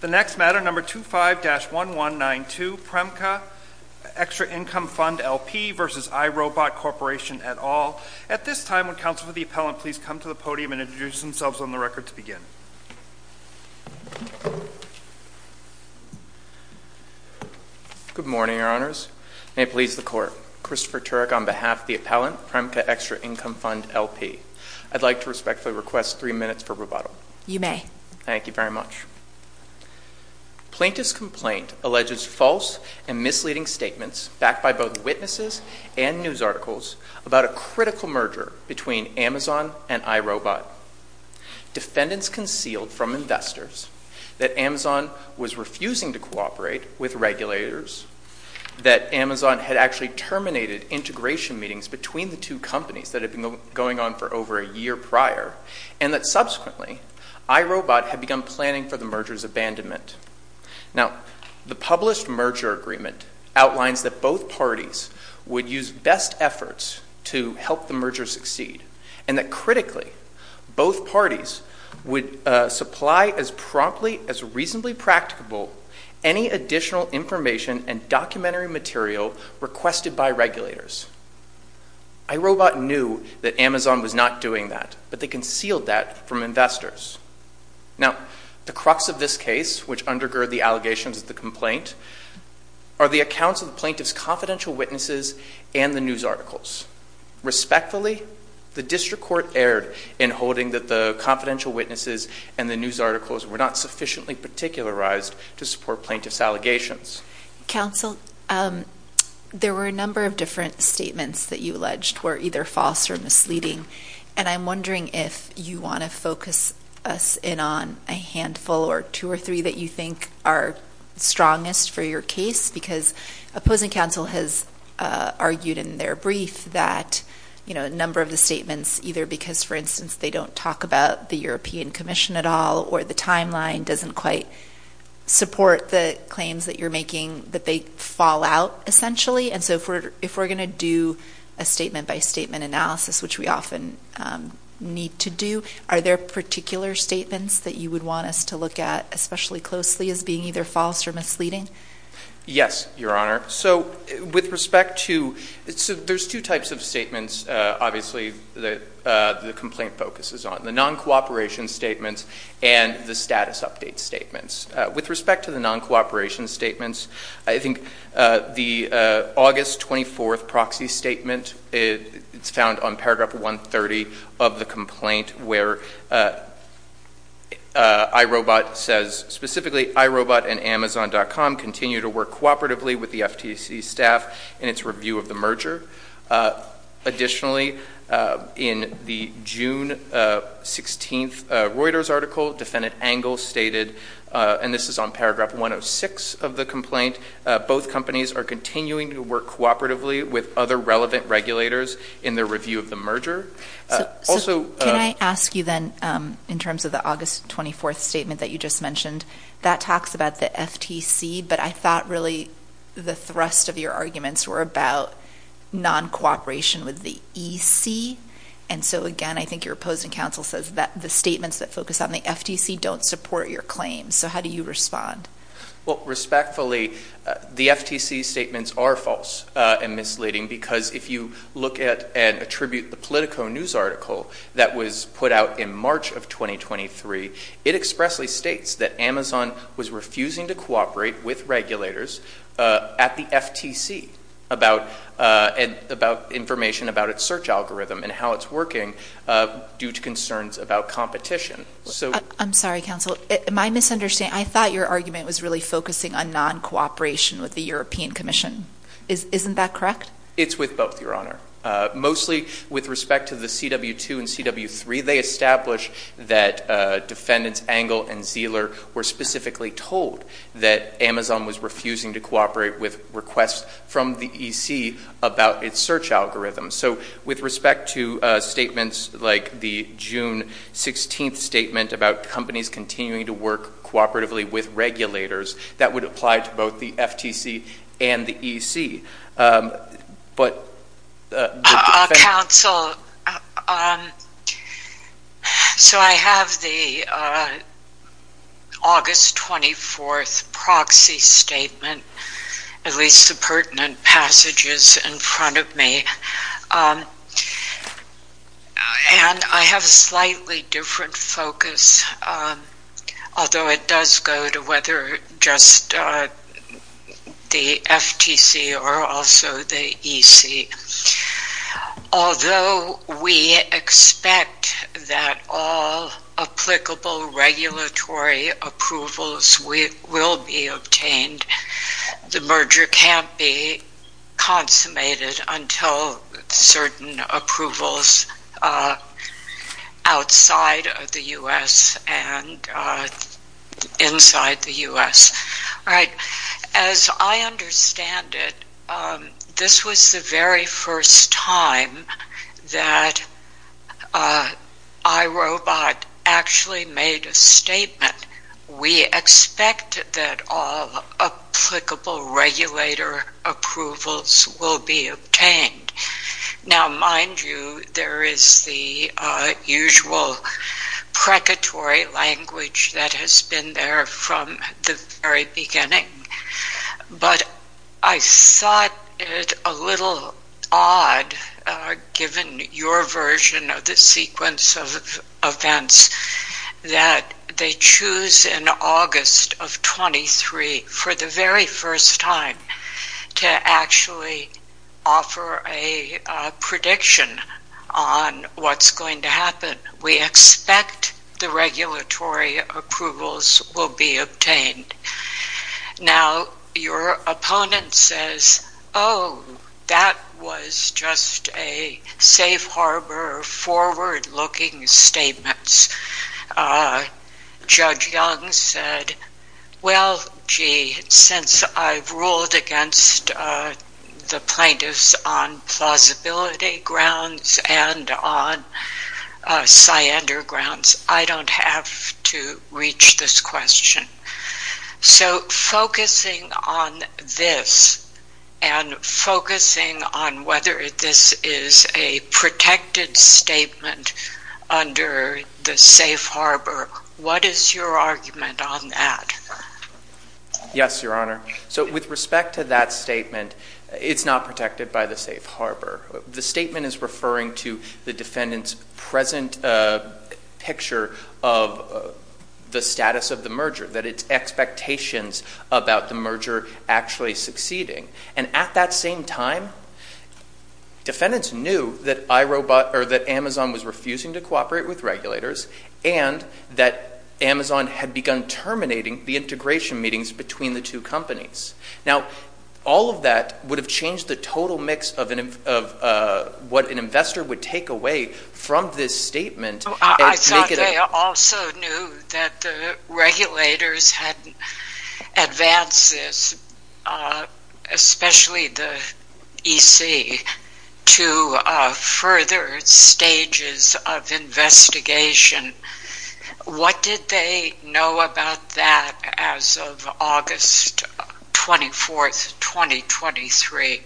The next matter, No. 25-1192, Premca Extra Income Fund LP v. iRobot Corporation et al. At this time, would the Council for the Appellant please come to the podium and introduce themselves on the record to begin? Good morning, Your Honors. May it please the Court, Christopher Turek on behalf of the Appellant, Premca Extra Income Fund LP. I'd like to respectfully request three minutes for rebuttal. You may. Thank you very much. Plaintiff's complaint alleges false and misleading statements backed by both witnesses and news articles about a critical merger between Amazon and iRobot. Defendants concealed from investors that Amazon was refusing to cooperate with regulators, that Amazon had actually terminated integration meetings between the two companies that had been going on for over a year prior, and that, subsequently, iRobot had begun planning for the merger's abandonment. The published merger agreement outlines that both parties would use best efforts to help the merger succeed and that, critically, both parties would supply as promptly as reasonably practicable any additional information and documentary material requested by regulators. iRobot knew that Amazon was not doing that, but they concealed that from investors. Now, the crux of this case, which undergird the allegations of the complaint, are the accounts of the plaintiff's confidential witnesses and the news articles. Respectfully, the District Court erred in holding that the confidential witnesses and the news articles were not sufficiently particularized to support plaintiff's allegations. Counsel, there were a number of different statements that you alleged were either false or misleading, and I'm wondering if you want to focus us in on a handful or two or three that you think are strongest for your case, because opposing counsel has argued in their brief that, you know, a number of the statements, either because, for instance, they don't talk about the European Commission at all or the timeline doesn't quite support the claims that you're making, that they fall out, essentially. And so if we're going to do a statement-by-statement analysis, which we often need to do, are there particular statements that you would want us to look at especially closely as being either false or misleading? Yes, Your Honor. So with respect to – so there's two types of statements, obviously, that the complaint focuses on, the non-cooperation statements and the status update statements. With respect to the non-cooperation statements, I think the August 24th proxy statement, it's found on paragraph 130 of the complaint where iRobot says specifically, iRobot and Amazon.com continue to work cooperatively with the FTC staff in its review of the merger. Additionally, in the June 16th Reuters article, defendant Angle stated, and this is on paragraph 106 of the complaint, both companies are continuing to work cooperatively with other relevant regulators in their review of the merger. Also – So can I ask you then, in terms of the August 24th statement that you just mentioned, that talks about the FTC, but I thought really the thrust of your arguments were about non-cooperation with the EC, and so again, I think your opposing counsel says that the statements that focus on the FTC don't support your claims. So how do you respond? Well, respectfully, the FTC statements are false and misleading because if you look at and attribute the Politico news article that was put out in March of 2023, it expressly states that Amazon was refusing to cooperate with regulators at the FTC about – about information about its search algorithm and how it's working due to concerns about competition. So – I'm sorry, counsel. My misunderstanding – I thought your argument was really focusing on non-cooperation with the European Commission. Isn't that correct? It's with both, Your Honor. Mostly with respect to the CW2 and CW3, they establish that defendants Engel and Zeller were specifically told that Amazon was refusing to cooperate with requests from the EC about its search algorithm. So with respect to statements like the June 16th statement about companies continuing to work cooperatively with regulators, that would apply to both the FTC and the EC. But – Counsel, so I have the August 24th proxy statement, at least the pertinent passages in front of And I have a slightly different focus, although it does go to whether just the FTC or also the EC. Although we expect that all applicable regulatory approvals will be obtained, the merger can't be consummated until certain approvals outside of the U.S. and inside the U.S. All right. As I understand it, this was the very first time that iRobot actually made a statement. And we expect that all applicable regulator approvals will be obtained. Now mind you, there is the usual precatory language that has been there from the very beginning, but I thought it a little odd, given your version of the sequence of events, that they choose in August of 23 for the very first time to actually offer a prediction on what's going to happen. We expect the regulatory approvals will be obtained. Now, your opponent says, oh, that was just a safe harbor, forward-looking statement. Judge Young said, well, gee, since I've ruled against the plaintiffs on plausibility grounds and on syander grounds, I don't have to reach this question. So focusing on this and focusing on whether this is a protected statement under the safe harbor, what is your argument on that? Yes, Your Honor. So with respect to that statement, it's not protected by the safe harbor. The statement is referring to the defendant's present picture of the status of the merger, that it's expectations about the merger actually succeeding. And at that same time, defendants knew that Amazon was refusing to cooperate with regulators and that Amazon had begun terminating the integration meetings between the two companies. Now, all of that would have changed the total mix of what an investor would take away from this statement. I thought they also knew that the regulators had advanced this, especially the EC, to further stages of investigation. What did they know about that as of August 24th, 2023?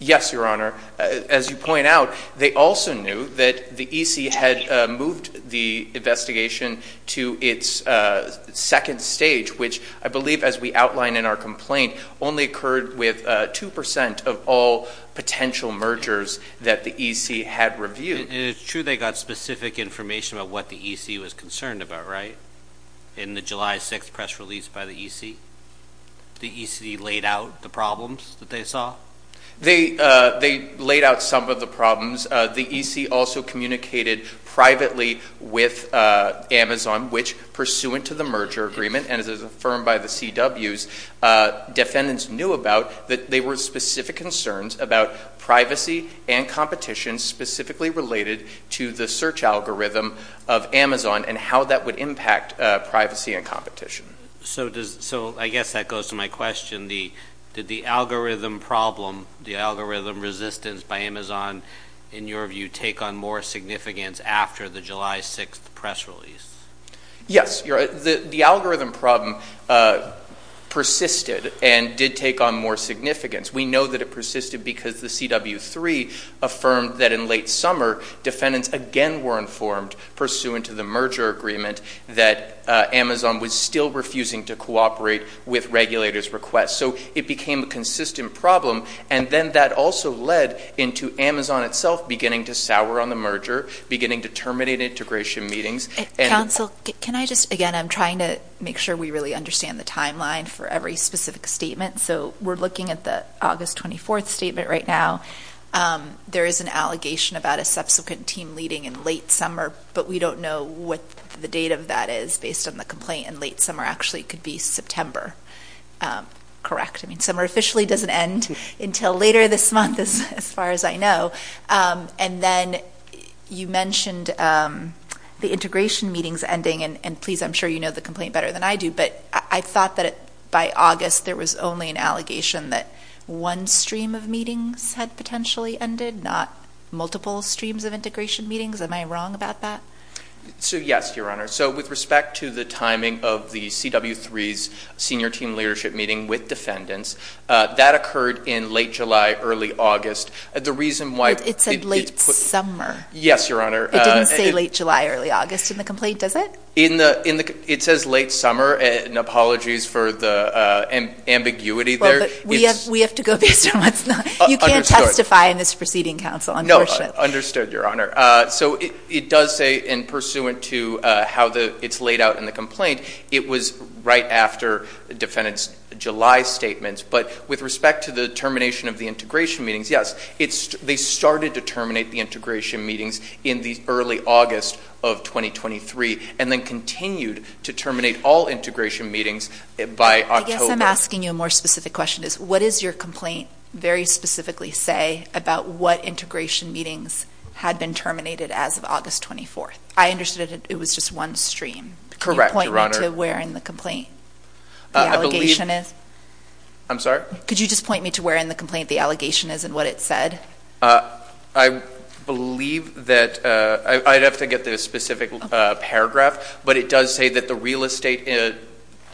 Yes, Your Honor. As you point out, they also knew that the EC had moved the investigation to its second stage, which I believe, as we outlined in our complaint, only occurred with 2% of all potential mergers that the EC had reviewed. And it's true they got specific information about what the EC was concerned about, right? In the July 6th press release by the EC, the EC laid out the problems that they saw? They laid out some of the problems. The EC also communicated privately with Amazon, which, pursuant to the merger agreement and as affirmed by the CWs, defendants knew about that they were specific concerns about privacy and competition specifically related to the search algorithm of Amazon and how that would impact privacy and competition. So I guess that goes to my question. Did the algorithm problem, the algorithm resistance by Amazon, in your view, take on more significance after the July 6th press release? Yes. The algorithm problem persisted and did take on more significance. We know that it persisted because the CW3 affirmed that in late summer, defendants again were informed, pursuant to the merger agreement, that Amazon was still refusing to cooperate with regulators' requests. So it became a consistent problem. And then that also led into Amazon itself beginning to sour on the merger, beginning to terminate integration meetings. Counsel, can I just, again, I'm trying to make sure we really understand the timeline for every specific statement. So we're looking at the August 24th statement right now. There is an allegation about a subsequent team leading in late summer, but we don't know what the date of that is based on the complaint. And late summer actually could be September, correct? I mean, summer officially doesn't end until later this month, as far as I know. And then you mentioned the integration meetings ending, and please, I'm sure you know the complaint better than I do. But I thought that by August, there was only an allegation that one stream of meetings had potentially ended, not multiple streams of integration meetings. Am I wrong about that? So, yes, Your Honor. So with respect to the timing of the CW3's senior team leadership meeting with defendants, that occurred in late July, early August. The reason why- It said late summer. Yes, Your Honor. It didn't say late July, early August in the complaint, does it? In the- it says late summer, and apologies for the ambiguity there. Well, but we have to go based on what's not- Understood. You can't testify in this proceeding, counsel, unfortunately. No, understood, Your Honor. So it does say, and pursuant to how it's laid out in the complaint, it was right after the defendant's July statement. But with respect to the termination of the integration meetings, yes, they started to terminate the integration meetings in the early August of 2023, and then continued to terminate all integration meetings by October. I guess I'm asking you a more specific question. What does your complaint very specifically say about what integration meetings had been terminated as of August 24th? I understood it was just one stream. Correct, Your Honor. Can you point me to where in the complaint the allegation is? I'm sorry? Could you just point me to where in the complaint the allegation is and what it said? I believe that, I'd have to get the specific paragraph, but it does say that the real estate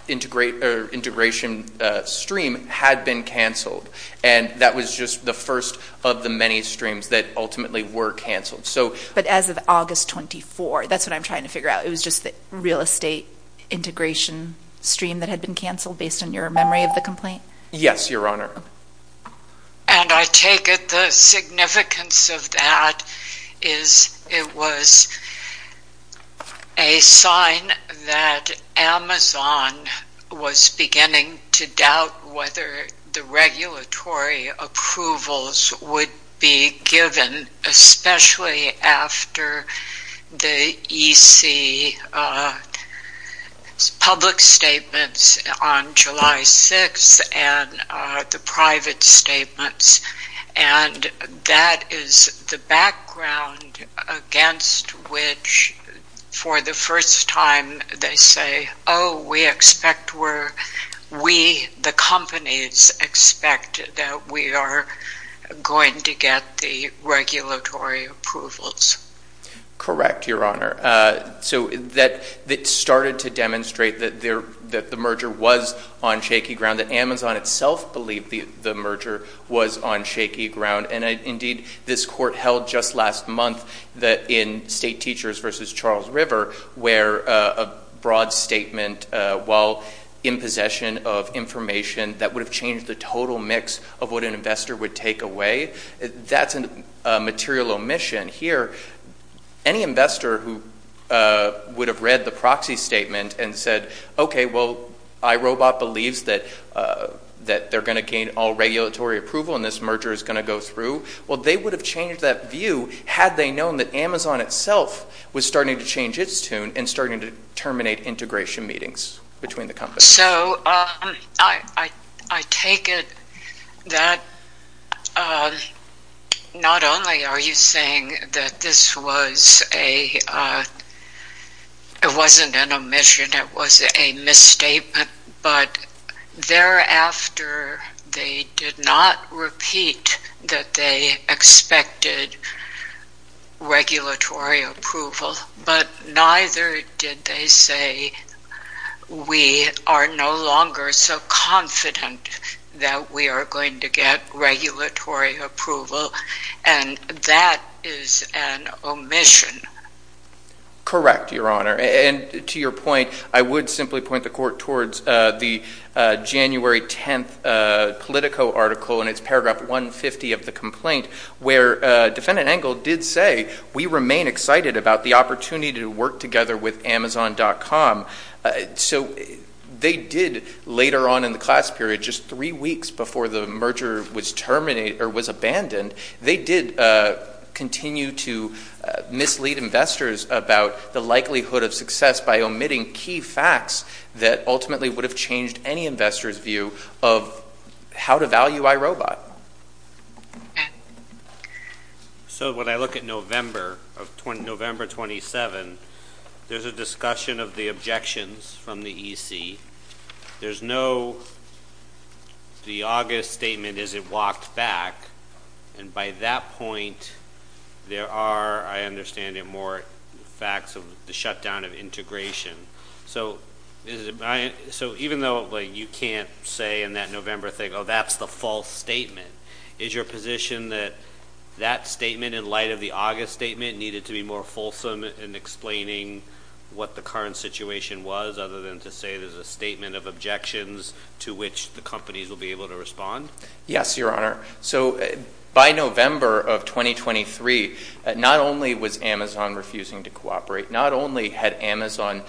integration stream had been canceled, and that was just the first of the many streams that ultimately were canceled. So- But as of August 24th, that's what I'm trying to figure out. It was just the real estate integration stream that had been canceled based on your memory of the complaint? Yes, Your Honor. And I take it the significance of that is it was a sign that Amazon was beginning to doubt whether the regulatory approvals would be given, especially after the EC public statements on July 6th and the private statements. And that is the background against which, for the first time, they say, oh, we expect where we, the companies, expect that we are going to get the regulatory approvals. Correct, Your Honor. So that started to demonstrate that the merger was on shaky ground, that Amazon itself believed the merger was on shaky ground. And indeed, this court held just last month that in State Teachers v. Charles River, where a broad statement, while in possession of information that would have changed the total mix of what an investor would take away, that's a material omission here. Any investor who would have read the proxy statement and said, okay, well, iRobot believes that they're going to gain all regulatory approval and this merger is going to go through, well, they would have changed that view had they known that Amazon itself was starting to change its tune and starting to terminate integration meetings between the companies. So I take it that not only are you saying that this was a, it wasn't an omission, it was a misstatement, but thereafter, they did not repeat that they expected regulatory approval, but neither did they say we are no longer so confident that we are going to get regulatory approval, and that is an omission. Correct, Your Honor. And to your point, I would simply point the court towards the January 10th Politico article in its paragraph 150 of the complaint, where Defendant Engel did say, we remain excited about the opportunity to work together with Amazon.com. So they did, later on in the class period, just three weeks before the merger was terminated or was abandoned, they did continue to mislead investors about the likelihood of success by omitting key facts that ultimately would have changed any investor's view of how to value iRobot. So when I look at November of, November 27, there's a discussion of the objections from the EC. There's no, the August statement isn't walked back, and by that point, there are, I understand it more, facts of the shutdown of integration. So even though you can't say in that November thing, oh, that's the false statement, is your position that that statement, in light of the August statement, needed to be more fulsome in explaining what the current situation was, other than to say there's a statement of objections to which the companies will be able to respond? Yes, Your Honor. So by November of 2023, not only was Amazon refusing to cooperate, not only had Amazon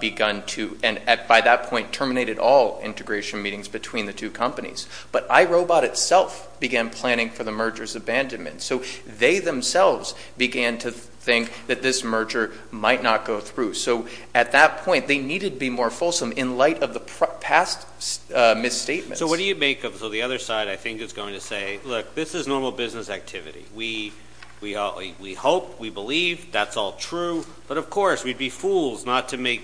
begun to, and by that point, terminated all integration meetings between the two companies, but iRobot itself began planning for the merger's abandonment. So they themselves began to think that this merger might not go through. So at that point, they needed to be more fulsome in light of the past misstatements. So what do you make of it? On the other side, I think it's going to say, look, this is normal business activity. We hope, we believe, that's all true, but of course, we'd be fools not to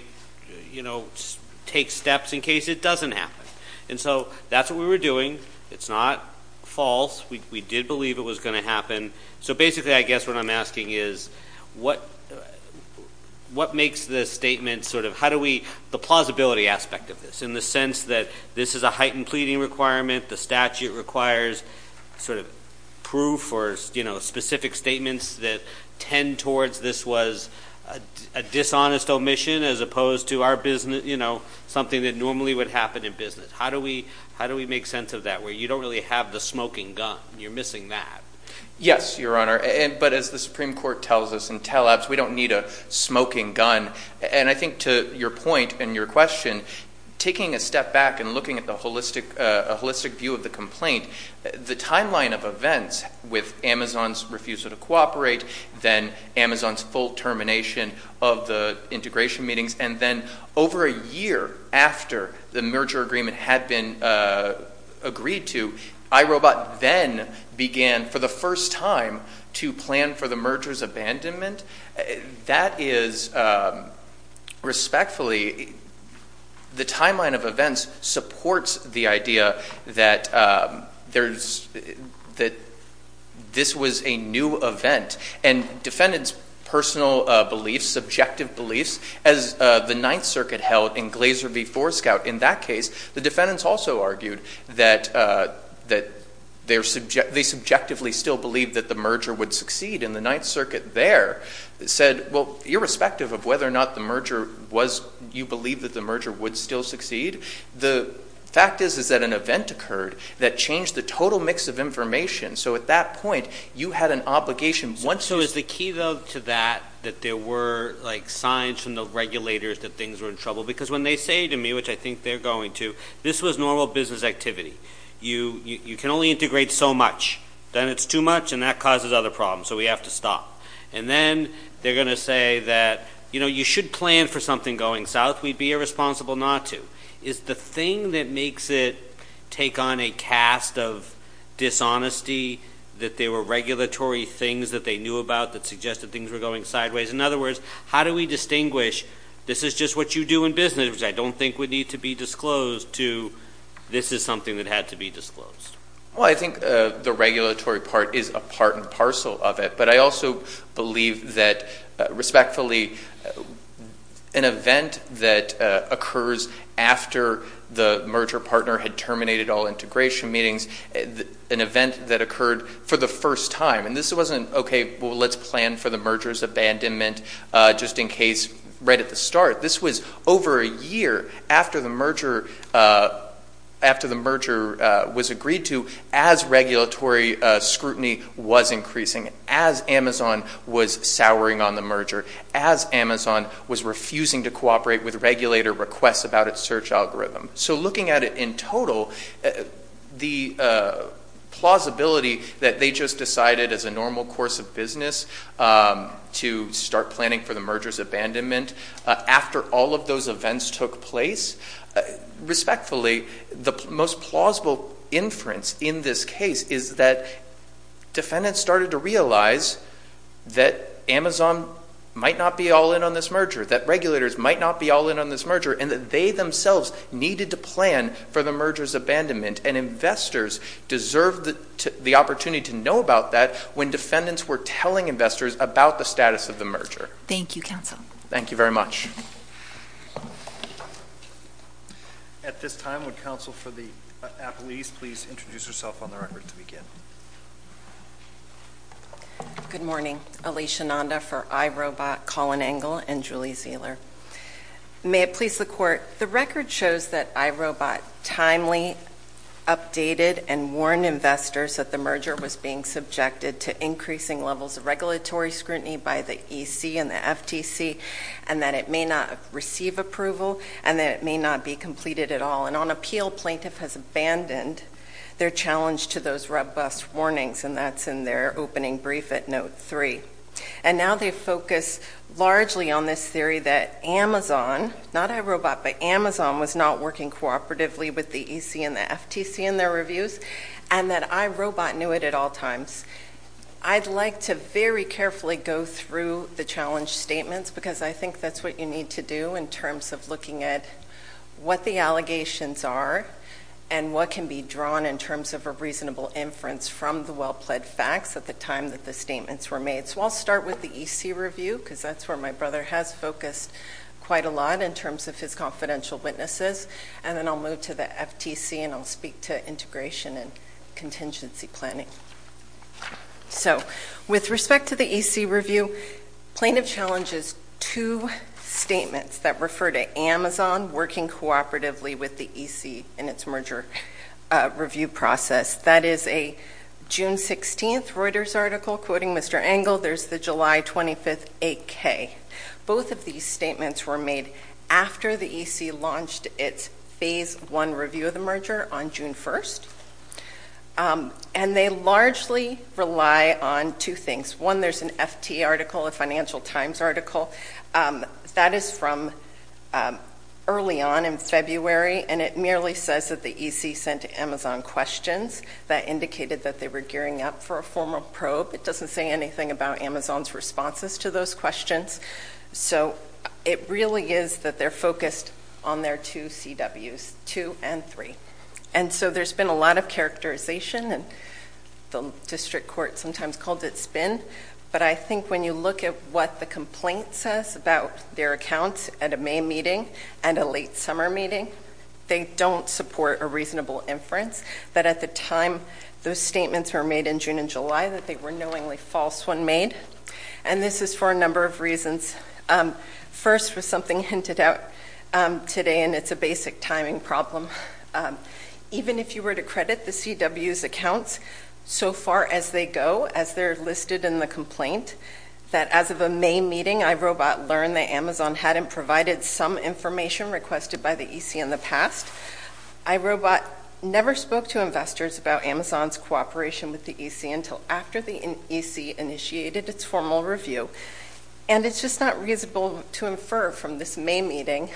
take steps in case it doesn't happen. And so that's what we were doing. It's not false. We did believe it was going to happen. So basically, I guess what I'm asking is, what makes the statement sort of, how do we, the plausibility aspect of this, in the sense that this is a heightened pleading requirement, the statute requires sort of proof or, you know, specific statements that tend towards this was a dishonest omission, as opposed to our business, you know, something that normally would happen in business. How do we, how do we make sense of that, where you don't really have the smoking gun? You're missing that. Yes, Your Honor. But as the Supreme Court tells us in teleps, we don't need a smoking gun. And I think to your point and your question, taking a step back and looking at the holistic, a holistic view of the complaint, the timeline of events with Amazon's refusal to cooperate, then Amazon's full termination of the integration meetings. And then over a year after the merger agreement had been agreed to, iRobot then began for the first time to plan for the merger's abandonment. That is, respectfully, the timeline of events supports the idea that there's, that this was a new event. And defendants' personal beliefs, subjective beliefs, as the Ninth Circuit held in Glaser v. Forescout, in that case, the defendants also argued that, that they subjectively still believed that the merger would succeed. And the Ninth Circuit there said, well, irrespective of whether or not the merger was, you believe that the merger would still succeed, the fact is, is that an event occurred that changed the total mix of information. So at that point, you had an obligation. So is the key though to that, that there were like signs from the regulators that things were in trouble? Because when they say to me, which I think they're going to, this was normal business activity. You can only integrate so much, then it's too much and that causes other problems, so we have to stop. And then they're going to say that, you know, you should plan for something going south, we'd be irresponsible not to. Is the thing that makes it take on a cast of dishonesty, that there were regulatory things that they knew about that suggested things were going sideways, in other words, how do we distinguish, this is just what you do in business, which I don't think would need to be disclosed, to this is something that had to be disclosed? Well, I think the regulatory part is a part and parcel of it. But I also believe that, respectfully, an event that occurs after the merger partner had terminated all integration meetings, an event that occurred for the first time, and this wasn't, okay, well, let's plan for the merger's abandonment, just in case, right at the start. This was over a year after the merger was agreed to, as regulatory scrutiny was increasing, as Amazon was souring on the merger, as Amazon was refusing to cooperate with regulator requests about its search algorithm. So looking at it in total, the plausibility that they just decided as a normal course of business to start planning for the merger's abandonment after all of those events took place, respectfully, the most plausible inference in this case is that defendants started to realize that Amazon might not be all in on this merger, that regulators might not be all in on this merger, and that they themselves needed to plan for the merger's abandonment, and investors deserved the opportunity to know about that when defendants were telling investors about the status of the merger. Thank you, counsel. Thank you very much. At this time, would counsel for the appellees please introduce yourself on the record to begin? Good morning. Alicia Nanda for iRobot, Colin Engel, and Julie Zehler. May it please the Court, the record shows that iRobot timely updated and warned investors that the merger was being subjected to increasing levels of regulatory scrutiny by the EC and the FTC, and that it may not receive approval, and that it may not be completed at all. And on appeal, plaintiff has abandoned their challenge to those robust warnings, and that's in their opening brief at Note 3. And now they focus largely on this theory that Amazon, not iRobot, but Amazon was not working cooperatively with the EC and the FTC in their reviews, and that iRobot knew it at all times. I'd like to very carefully go through the challenge statements, because I think that's what you need to do in terms of looking at what the allegations are and what can be drawn in terms of a reasonable inference from the well-pled facts at the time that the statements were made. So I'll start with the EC review, because that's where my brother has focused quite a lot in terms of his confidential witnesses, and then I'll move to the FTC and I'll speak to integration and contingency planning. So with respect to the EC review, plaintiff challenges two statements that refer to Amazon working cooperatively with the EC in its merger review process. That is a June 16th Reuters article quoting Mr. Engel. There's the July 25th 8K. Both of these statements were made after the EC launched its phase one review of the merger on June 1st, and they largely rely on two things. One, there's an FT article, a Financial Times article. That is from early on in February, and it merely says that the EC sent Amazon questions that indicated that they were gearing up for a formal probe. It doesn't say anything about Amazon's responses to those questions. So it really is that they're focused on their two CWs, two and three. And so there's been a lot of characterization, and the district court sometimes calls it a spin, but I think when you look at what the complaint says about their accounts at a May meeting and a late summer meeting, they don't support a reasonable inference that at the time those statements were made in June and July, that they were knowingly false when made. And this is for a number of reasons. First was something hinted at today, and it's a basic timing problem. Even if you were to credit the CW's accounts so far as they go, as they're listed in the complaint, that as of a May meeting, iRobot learned that Amazon hadn't provided some information requested by the EC in the past. iRobot never spoke to investors about Amazon's cooperation with the EC until after the EC initiated its formal review. And it's just not reasonable to infer from this May meeting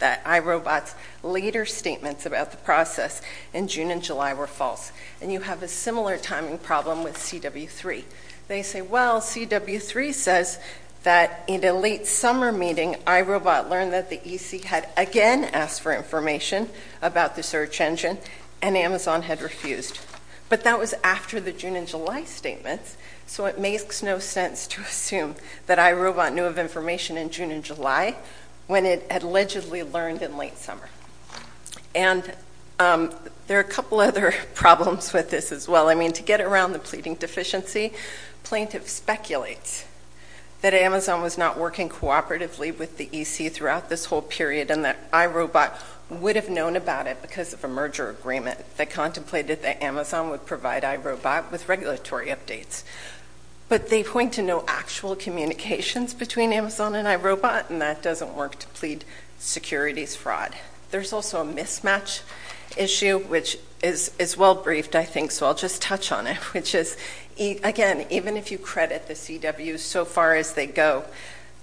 that iRobot's later statements about the process in June and July were false. And you have a similar timing problem with CW3. They say, well, CW3 says that in a late summer meeting, iRobot learned that the EC had again asked for information about the search engine, and Amazon had refused. But that was after the June and July statements, so it makes no sense to assume that iRobot knew of information in June and July when it had allegedly learned in late summer. And there are a couple other problems with this as well. I mean, to get around the pleading deficiency, plaintiff speculates that Amazon was not working cooperatively with the EC throughout this whole period, and that iRobot would have known about it because of a merger agreement that contemplated that Amazon would provide iRobot with regulatory updates. But they point to no actual communications between Amazon and iRobot, and that doesn't work to plead securities fraud. There's also a mismatch issue, which is well briefed, I think, so I'll just touch on it, which is, again, even if you credit the CW so far as they go,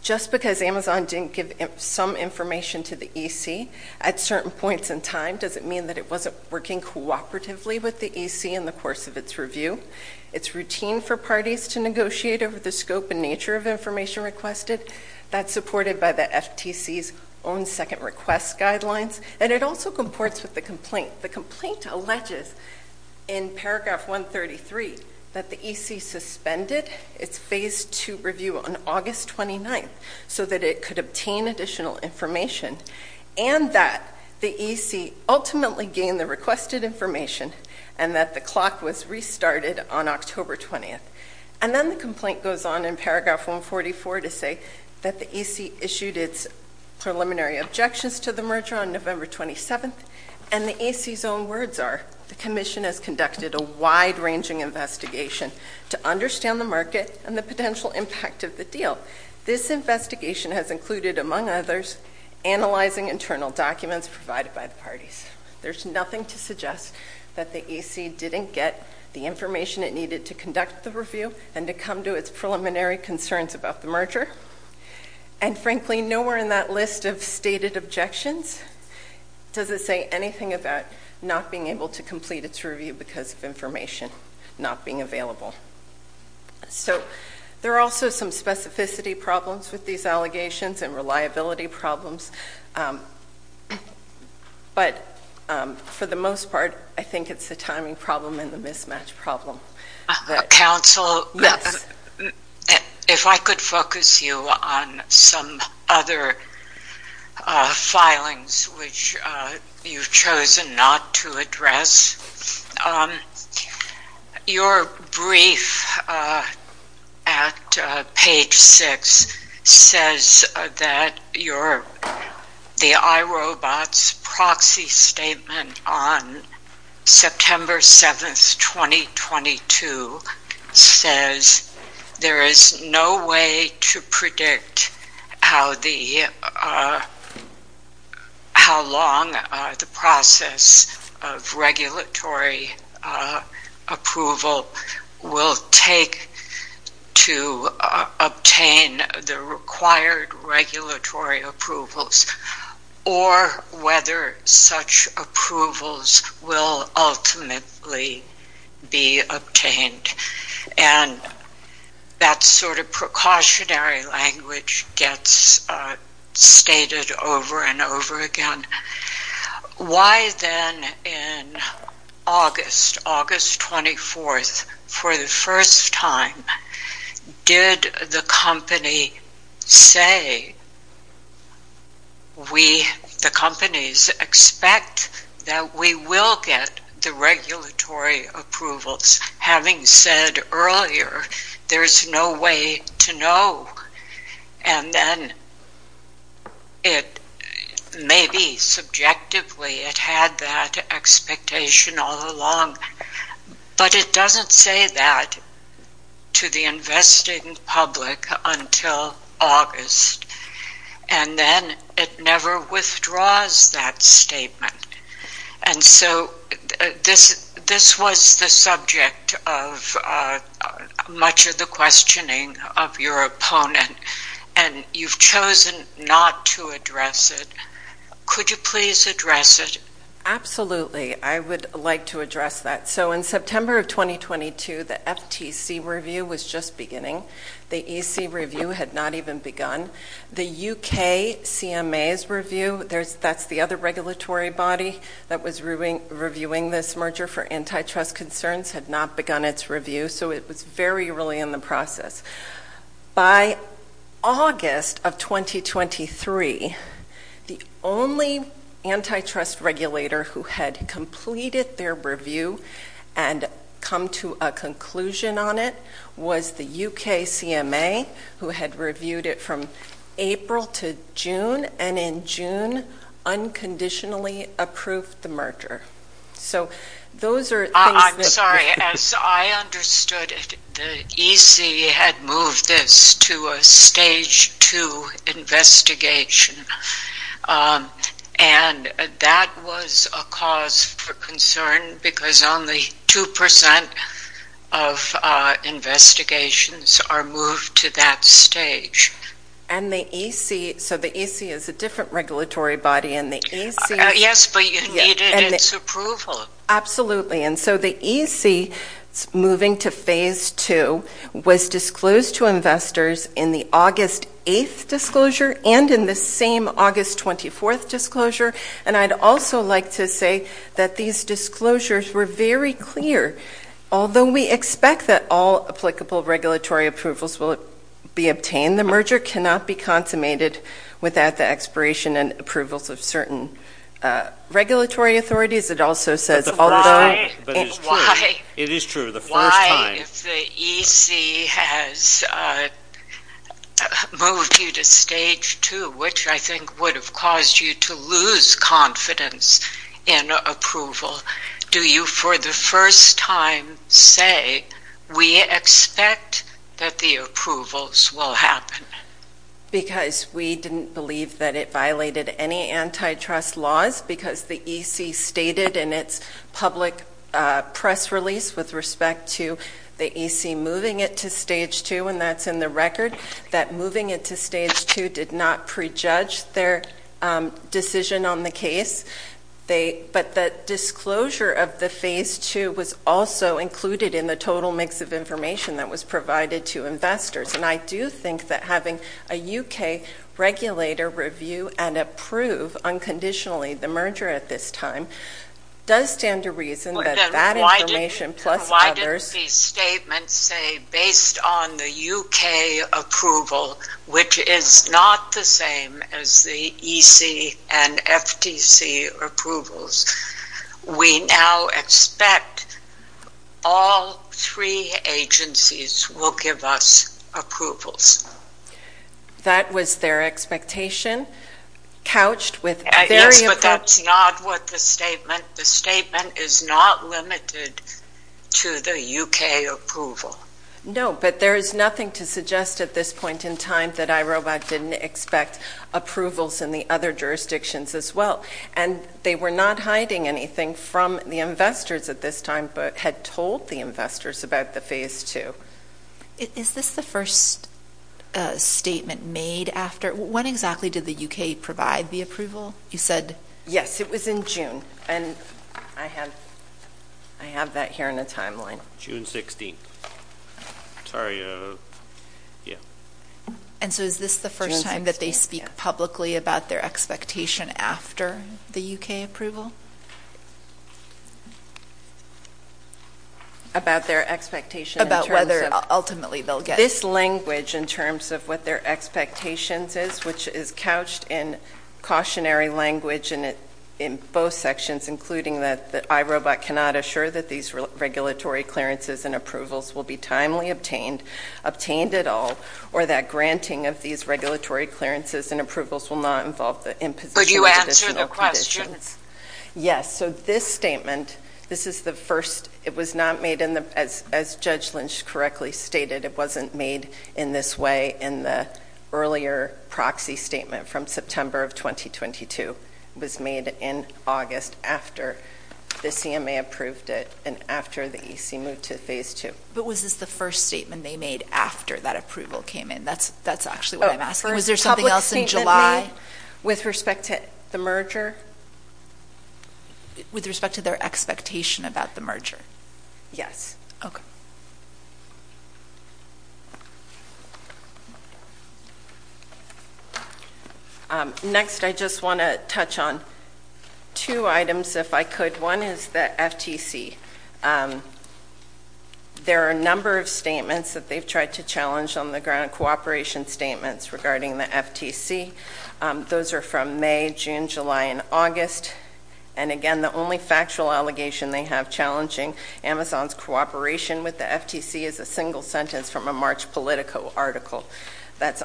just because Amazon didn't give some information to the EC at certain points in time doesn't mean that it wasn't working cooperatively with the EC in the course of its review. It's routine for parties to negotiate over the scope and nature of information requested. That's supported by the FTC's own second request guidelines, and it also comports with the The complaint alleges in paragraph 133 that the EC suspended its phase two review on August 29th so that it could obtain additional information, and that the EC ultimately gained the requested information and that the clock was restarted on October 20th. And then the complaint goes on in paragraph 144 to say that the EC issued its preliminary objections to the merger on November 27th, and the EC's own words are, the commission has conducted a wide-ranging investigation to understand the market and the potential impact of the deal. This investigation has included, among others, analyzing internal documents provided by the There's nothing to suggest that the EC didn't get the information it needed to conduct the review and to come to its preliminary concerns about the merger. And frankly, nowhere in that list of stated objections does it say anything about not being able to complete its review because of information not being available. So, there are also some specificity problems with these allegations and reliability problems, but for the most part, I think it's the timing problem and the mismatch problem. Counsel, if I could focus you on some other filings which you've chosen not to address. Your brief at page 6 says that the iRobots proxy statement on September 7th, 2022, says there is no way to predict how long the process of regulatory approval will take to obtain the required regulatory approvals or whether such approvals will ultimately be obtained. And that sort of precautionary language gets stated over and over again. Why then in August, August 24th, for the first time, did the company say we, the companies, expect that we will get the regulatory approvals? Having said earlier, there's no way to know. And then it may be subjectively it had that expectation all along, but it doesn't say that to the investing public until August. And then it never withdraws that statement. And so, this was the subject of much of the questioning of your opponent. And you've chosen not to address it. Could you please address it? Absolutely. I would like to address that. So, in September of 2022, the FTC review was just beginning. The EC review had not even begun. The UK CMA's review, that's the other regulatory body that was reviewing this merger for antitrust concerns, had not begun its review. So, it was very early in the process. By August of 2023, the only antitrust regulator who had completed their review and come to a conclusion on it was the UK CMA, who had reviewed it from April to June. And in June, unconditionally approved the merger. So, those are things that... As I understood it, the EC had moved this to a stage two investigation. And that was a cause for concern because only 2% of investigations are moved to that stage. And the EC... So, the EC is a different regulatory body and the EC... Yes, but you needed its approval. Absolutely. And so, the EC moving to phase two was disclosed to investors in the August 8th disclosure and in the same August 24th disclosure. And I'd also like to say that these disclosures were very clear. Although we expect that all applicable regulatory approvals will be obtained, the merger cannot be consummated without the expiration and approvals of certain regulatory authorities. It also says, although... But it's true. It is true. The first time... Why, if the EC has moved you to stage two, which I think would have caused you to lose confidence in approval, do you, for the first time, say, we expect that the approvals will happen? Because we didn't believe that it violated any antitrust laws because the EC stated in its public press release with respect to the EC moving it to stage two, and that's in the record, that moving it to stage two did not prejudge their decision on the case. But the disclosure of the phase two was also included in the total mix of information that was provided to investors. And I do think that having a UK regulator review and approve, unconditionally, the merger at this time does stand to reason that that information, plus others... Then why did these statements say, based on the UK approval, which is not the same as the EC and FTC approvals, we now expect all three agencies will give us approvals? That was their expectation, couched with... Yes, but that's not what the statement... The statement is not limited to the UK approval. No, but there is nothing to suggest at this point in time that IROBOT didn't expect approvals in the other jurisdictions as well. And they were not hiding anything from the investors at this time, but had told the investors about the phase two. Is this the first statement made after... When exactly did the UK provide the approval? You said... Yes, it was in June. And I have that here in a timeline. June 16th. Sorry, yeah. And so is this the first time that they speak publicly about their expectation after the UK approval? About their expectation in terms of... About whether, ultimately, they'll get... This language, in terms of what their expectations is, which is couched in cautionary language in both sections, including that IROBOT cannot assure that these regulatory clearances and approvals will be timely obtained, obtained at all, or that granting of these regulatory clearances and approvals will not involve the imposition of additional conditions. Yes. So this statement, this is the first... It was not made in the... As Judge Lynch correctly stated, it wasn't made in this way in the earlier proxy statement from September of 2022. It was made in August after the CMA approved it and after the EC moved to phase two. But was this the first statement they made after that approval came in? That's actually what I'm asking. Was there something else in July? With respect to the merger? With respect to their expectation about the merger? Yes. Okay. Next, I just want to touch on two items, if I could. One is the FTC. There are a number of statements that they've tried to challenge on the ground, cooperation statements regarding the FTC. Those are from May, June, July, and August. And again, the only factual allegation they have challenging Amazon's cooperation with the FTC is a single sentence from a March Politico article. That's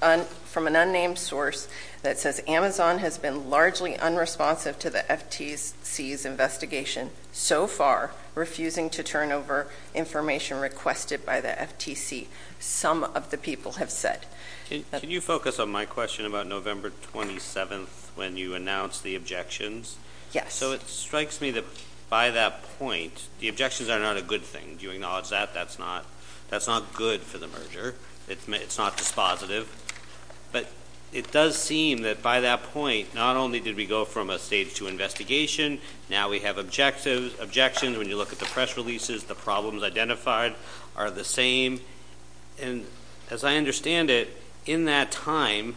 from an unnamed source that says Amazon has been largely unresponsive to the FTC's investigation so far, refusing to turn over information requested by the FTC, some of the people have said. Can you focus on my question about November 27th when you announced the objections? Yes. So it strikes me that by that point, the objections are not a good thing. Do you acknowledge that? That's not good for the merger. It's not dispositive. But it does seem that by that point, not only did we go from a stage two investigation, now we have objections. When you look at the press releases, the problems identified are the same. And as I understand it, in that time,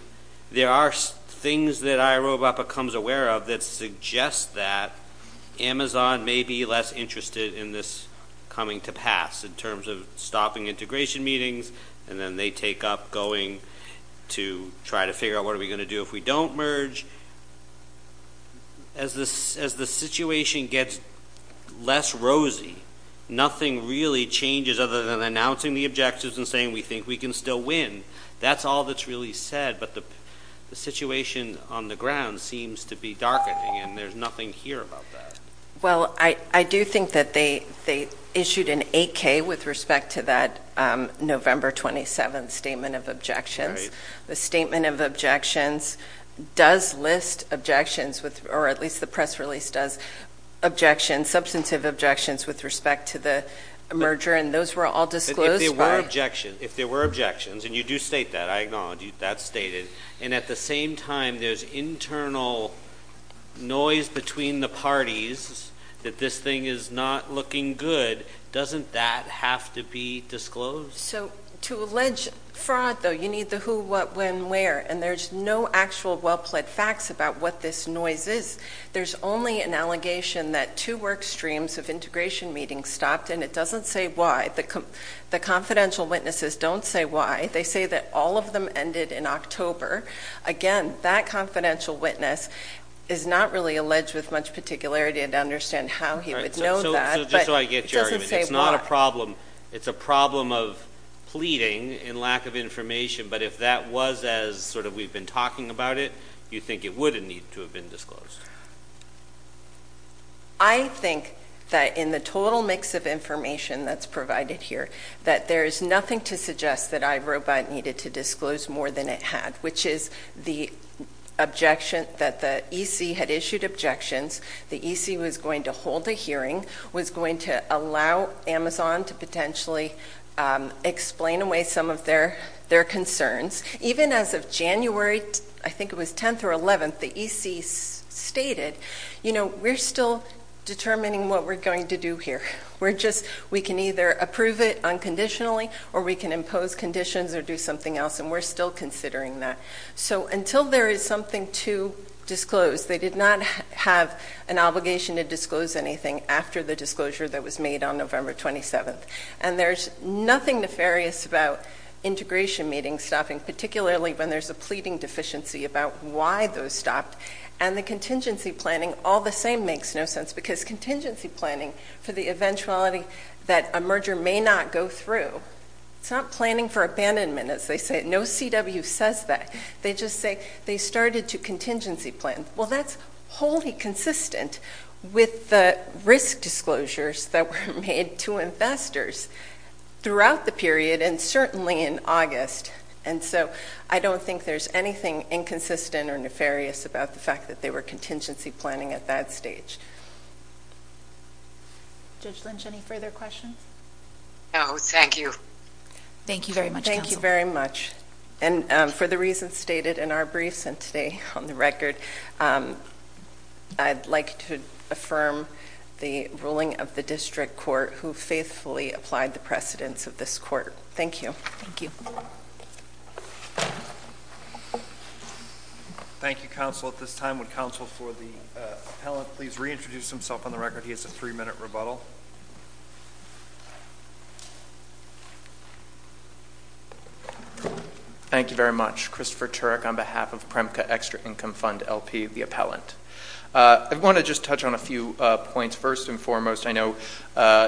there are things that IROBOT becomes aware of that suggests that Amazon may be less interested in this coming to pass in terms of stopping integration meetings, and then they take up going to try to figure out what are we going to do if we don't merge. As the situation gets less rosy, nothing really changes other than announcing the objectives and saying we think we can still win. That's all that's really said. But the situation on the ground seems to be darkening, and there's nothing here about that. Well, I do think that they issued an 8K with respect to that November 27th statement of objections. The statement of objections does list objections, or at least the press release does, objections, substantive objections with respect to the merger. And those were all disclosed. If there were objections, and you do state that. I acknowledge that's stated. And at the same time, there's internal noise between the parties that this thing is not looking good. Doesn't that have to be disclosed? So to allege fraud, though, you need the who, what, when, where. And there's no actual well-plaid facts about what this noise is. There's only an allegation that two work streams of integration meetings stopped, and it doesn't say why. The confidential witnesses don't say why. They say that all of them ended in October. Again, that confidential witness is not really alleged with much particularity to understand how he would know that. So just so I get your argument, it's not a problem. It's a problem of pleading and lack of information. But if that was as sort of we've been talking about it, do you think it would need to have been disclosed? I think that in the total mix of information that's provided here, that there is nothing to suggest that iRobot needed to disclose more than it had, which is the objection that the EC had issued objections. The EC was going to hold a hearing, was going to allow Amazon to potentially explain away some of their concerns. Even as of January, I think it was 10th or 11th, the EC stated, you know, we're still determining what we're going to do here. We can either approve it unconditionally or we can impose conditions or do something else, and we're still considering that. So until there is something to disclose, they did not have an obligation to disclose anything after the disclosure that was made on November 27th. And there's nothing nefarious about integration meetings stopping, particularly when there's a pleading deficiency about why those stopped. And the contingency planning, all the same, makes no sense. Because contingency planning for the eventuality that a merger may not go through, it's not planning for abandonment, as they say. No CW says that. They just say they started to contingency plan. Well, that's wholly consistent with the risk disclosures that were made to investors throughout the period and certainly in August. And so I don't think there's anything inconsistent or nefarious about the fact that they were contingency planning at that stage. Judge Lynch, any further questions? No, thank you. Thank you very much, counsel. Thank you very much. And for the reasons stated in our briefs and today on the record, I'd like to affirm the ruling of the district court who faithfully applied the precedents of this court. Thank you. Thank you. Thank you, counsel. At this time, would counsel for the appellant please reintroduce himself on the record? He has a three-minute rebuttal. Thank you very much. Christopher Turek on behalf of PREMCA Extra Income Fund, LP, the appellant. I want to just touch on a few points. First and foremost, I know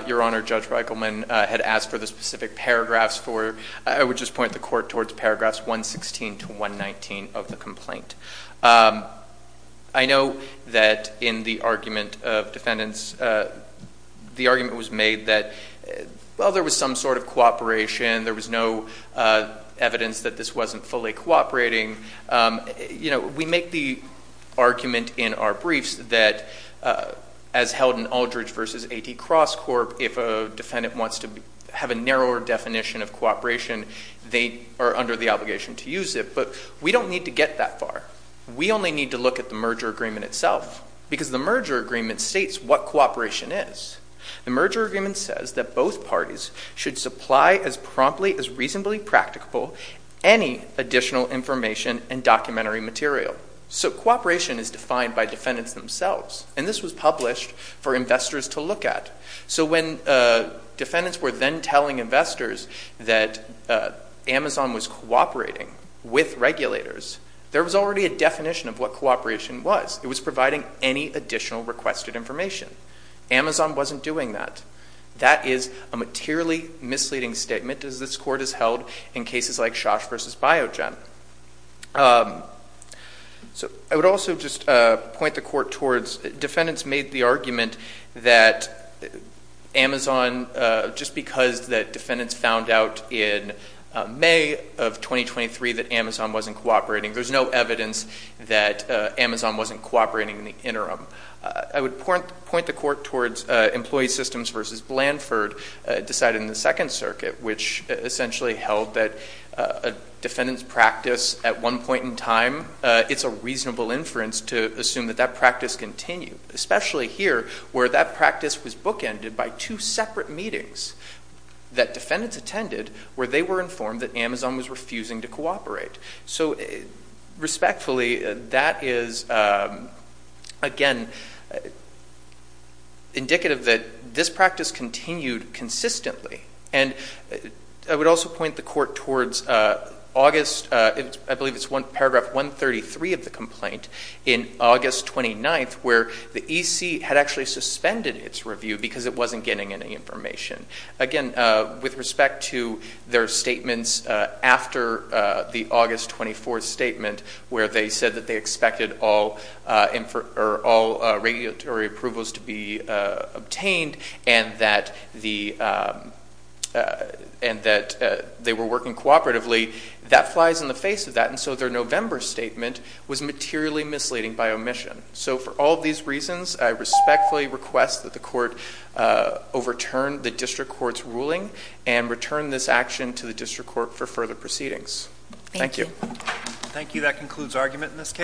Your Honor, Judge Reichelman had asked for the specific paragraphs for, I would just point the court towards paragraphs 116 to 119 of the complaint. I know that in the argument of defendants, the argument was made that, well, there was some sort of cooperation. There was no evidence that this wasn't fully cooperating. We make the argument in our briefs that, as held in Aldridge v. A.T. Cross Corp., if a defendant wants to have a narrower definition of cooperation, they are under the obligation to use it. But we don't need to get that far. We only need to look at the merger agreement itself, because the merger agreement states what cooperation is. The merger agreement says that both parties should supply as promptly, as reasonably practicable, any additional information and documentary material. So cooperation is defined by defendants themselves. And this was published for investors to look at. So when defendants were then telling investors that Amazon was cooperating with regulators, there was already a definition of what cooperation was. It was providing any additional requested information. Amazon wasn't doing that. That is a materially misleading statement, as this Court has held in cases like Shosh v. Biogen. So I would also just point the Court towards defendants made the argument that Amazon, just because the defendants found out in May of 2023 that Amazon wasn't cooperating, there's no evidence that Amazon wasn't cooperating in the interim. I would point the Court towards Employee Systems v. Blanford decided in the Second Circuit, which essentially held that a defendant's practice at one point in time, it's a reasonable inference to assume that that practice continued, especially here, where that practice was bookended by two separate meetings that defendants attended, where they were informed that Amazon was refusing to cooperate. So respectfully, that is, again, indicative that this practice continued consistently. And I would also point the Court towards August, I believe it's paragraph 133 of the complaint, in August 29th, where the EC had actually suspended its review because it wasn't getting any information. Again, with respect to their statements after the August 24th statement, where they said that they expected all regulatory approvals to be obtained and that they were working cooperatively, that flies in the face of that. And so their November statement was materially misleading by omission. So for all of these reasons, I respectfully request that the Court overturn the District Court's ruling and return this action to the District Court for further proceedings. Thank you. Thank you. That concludes argument in this case.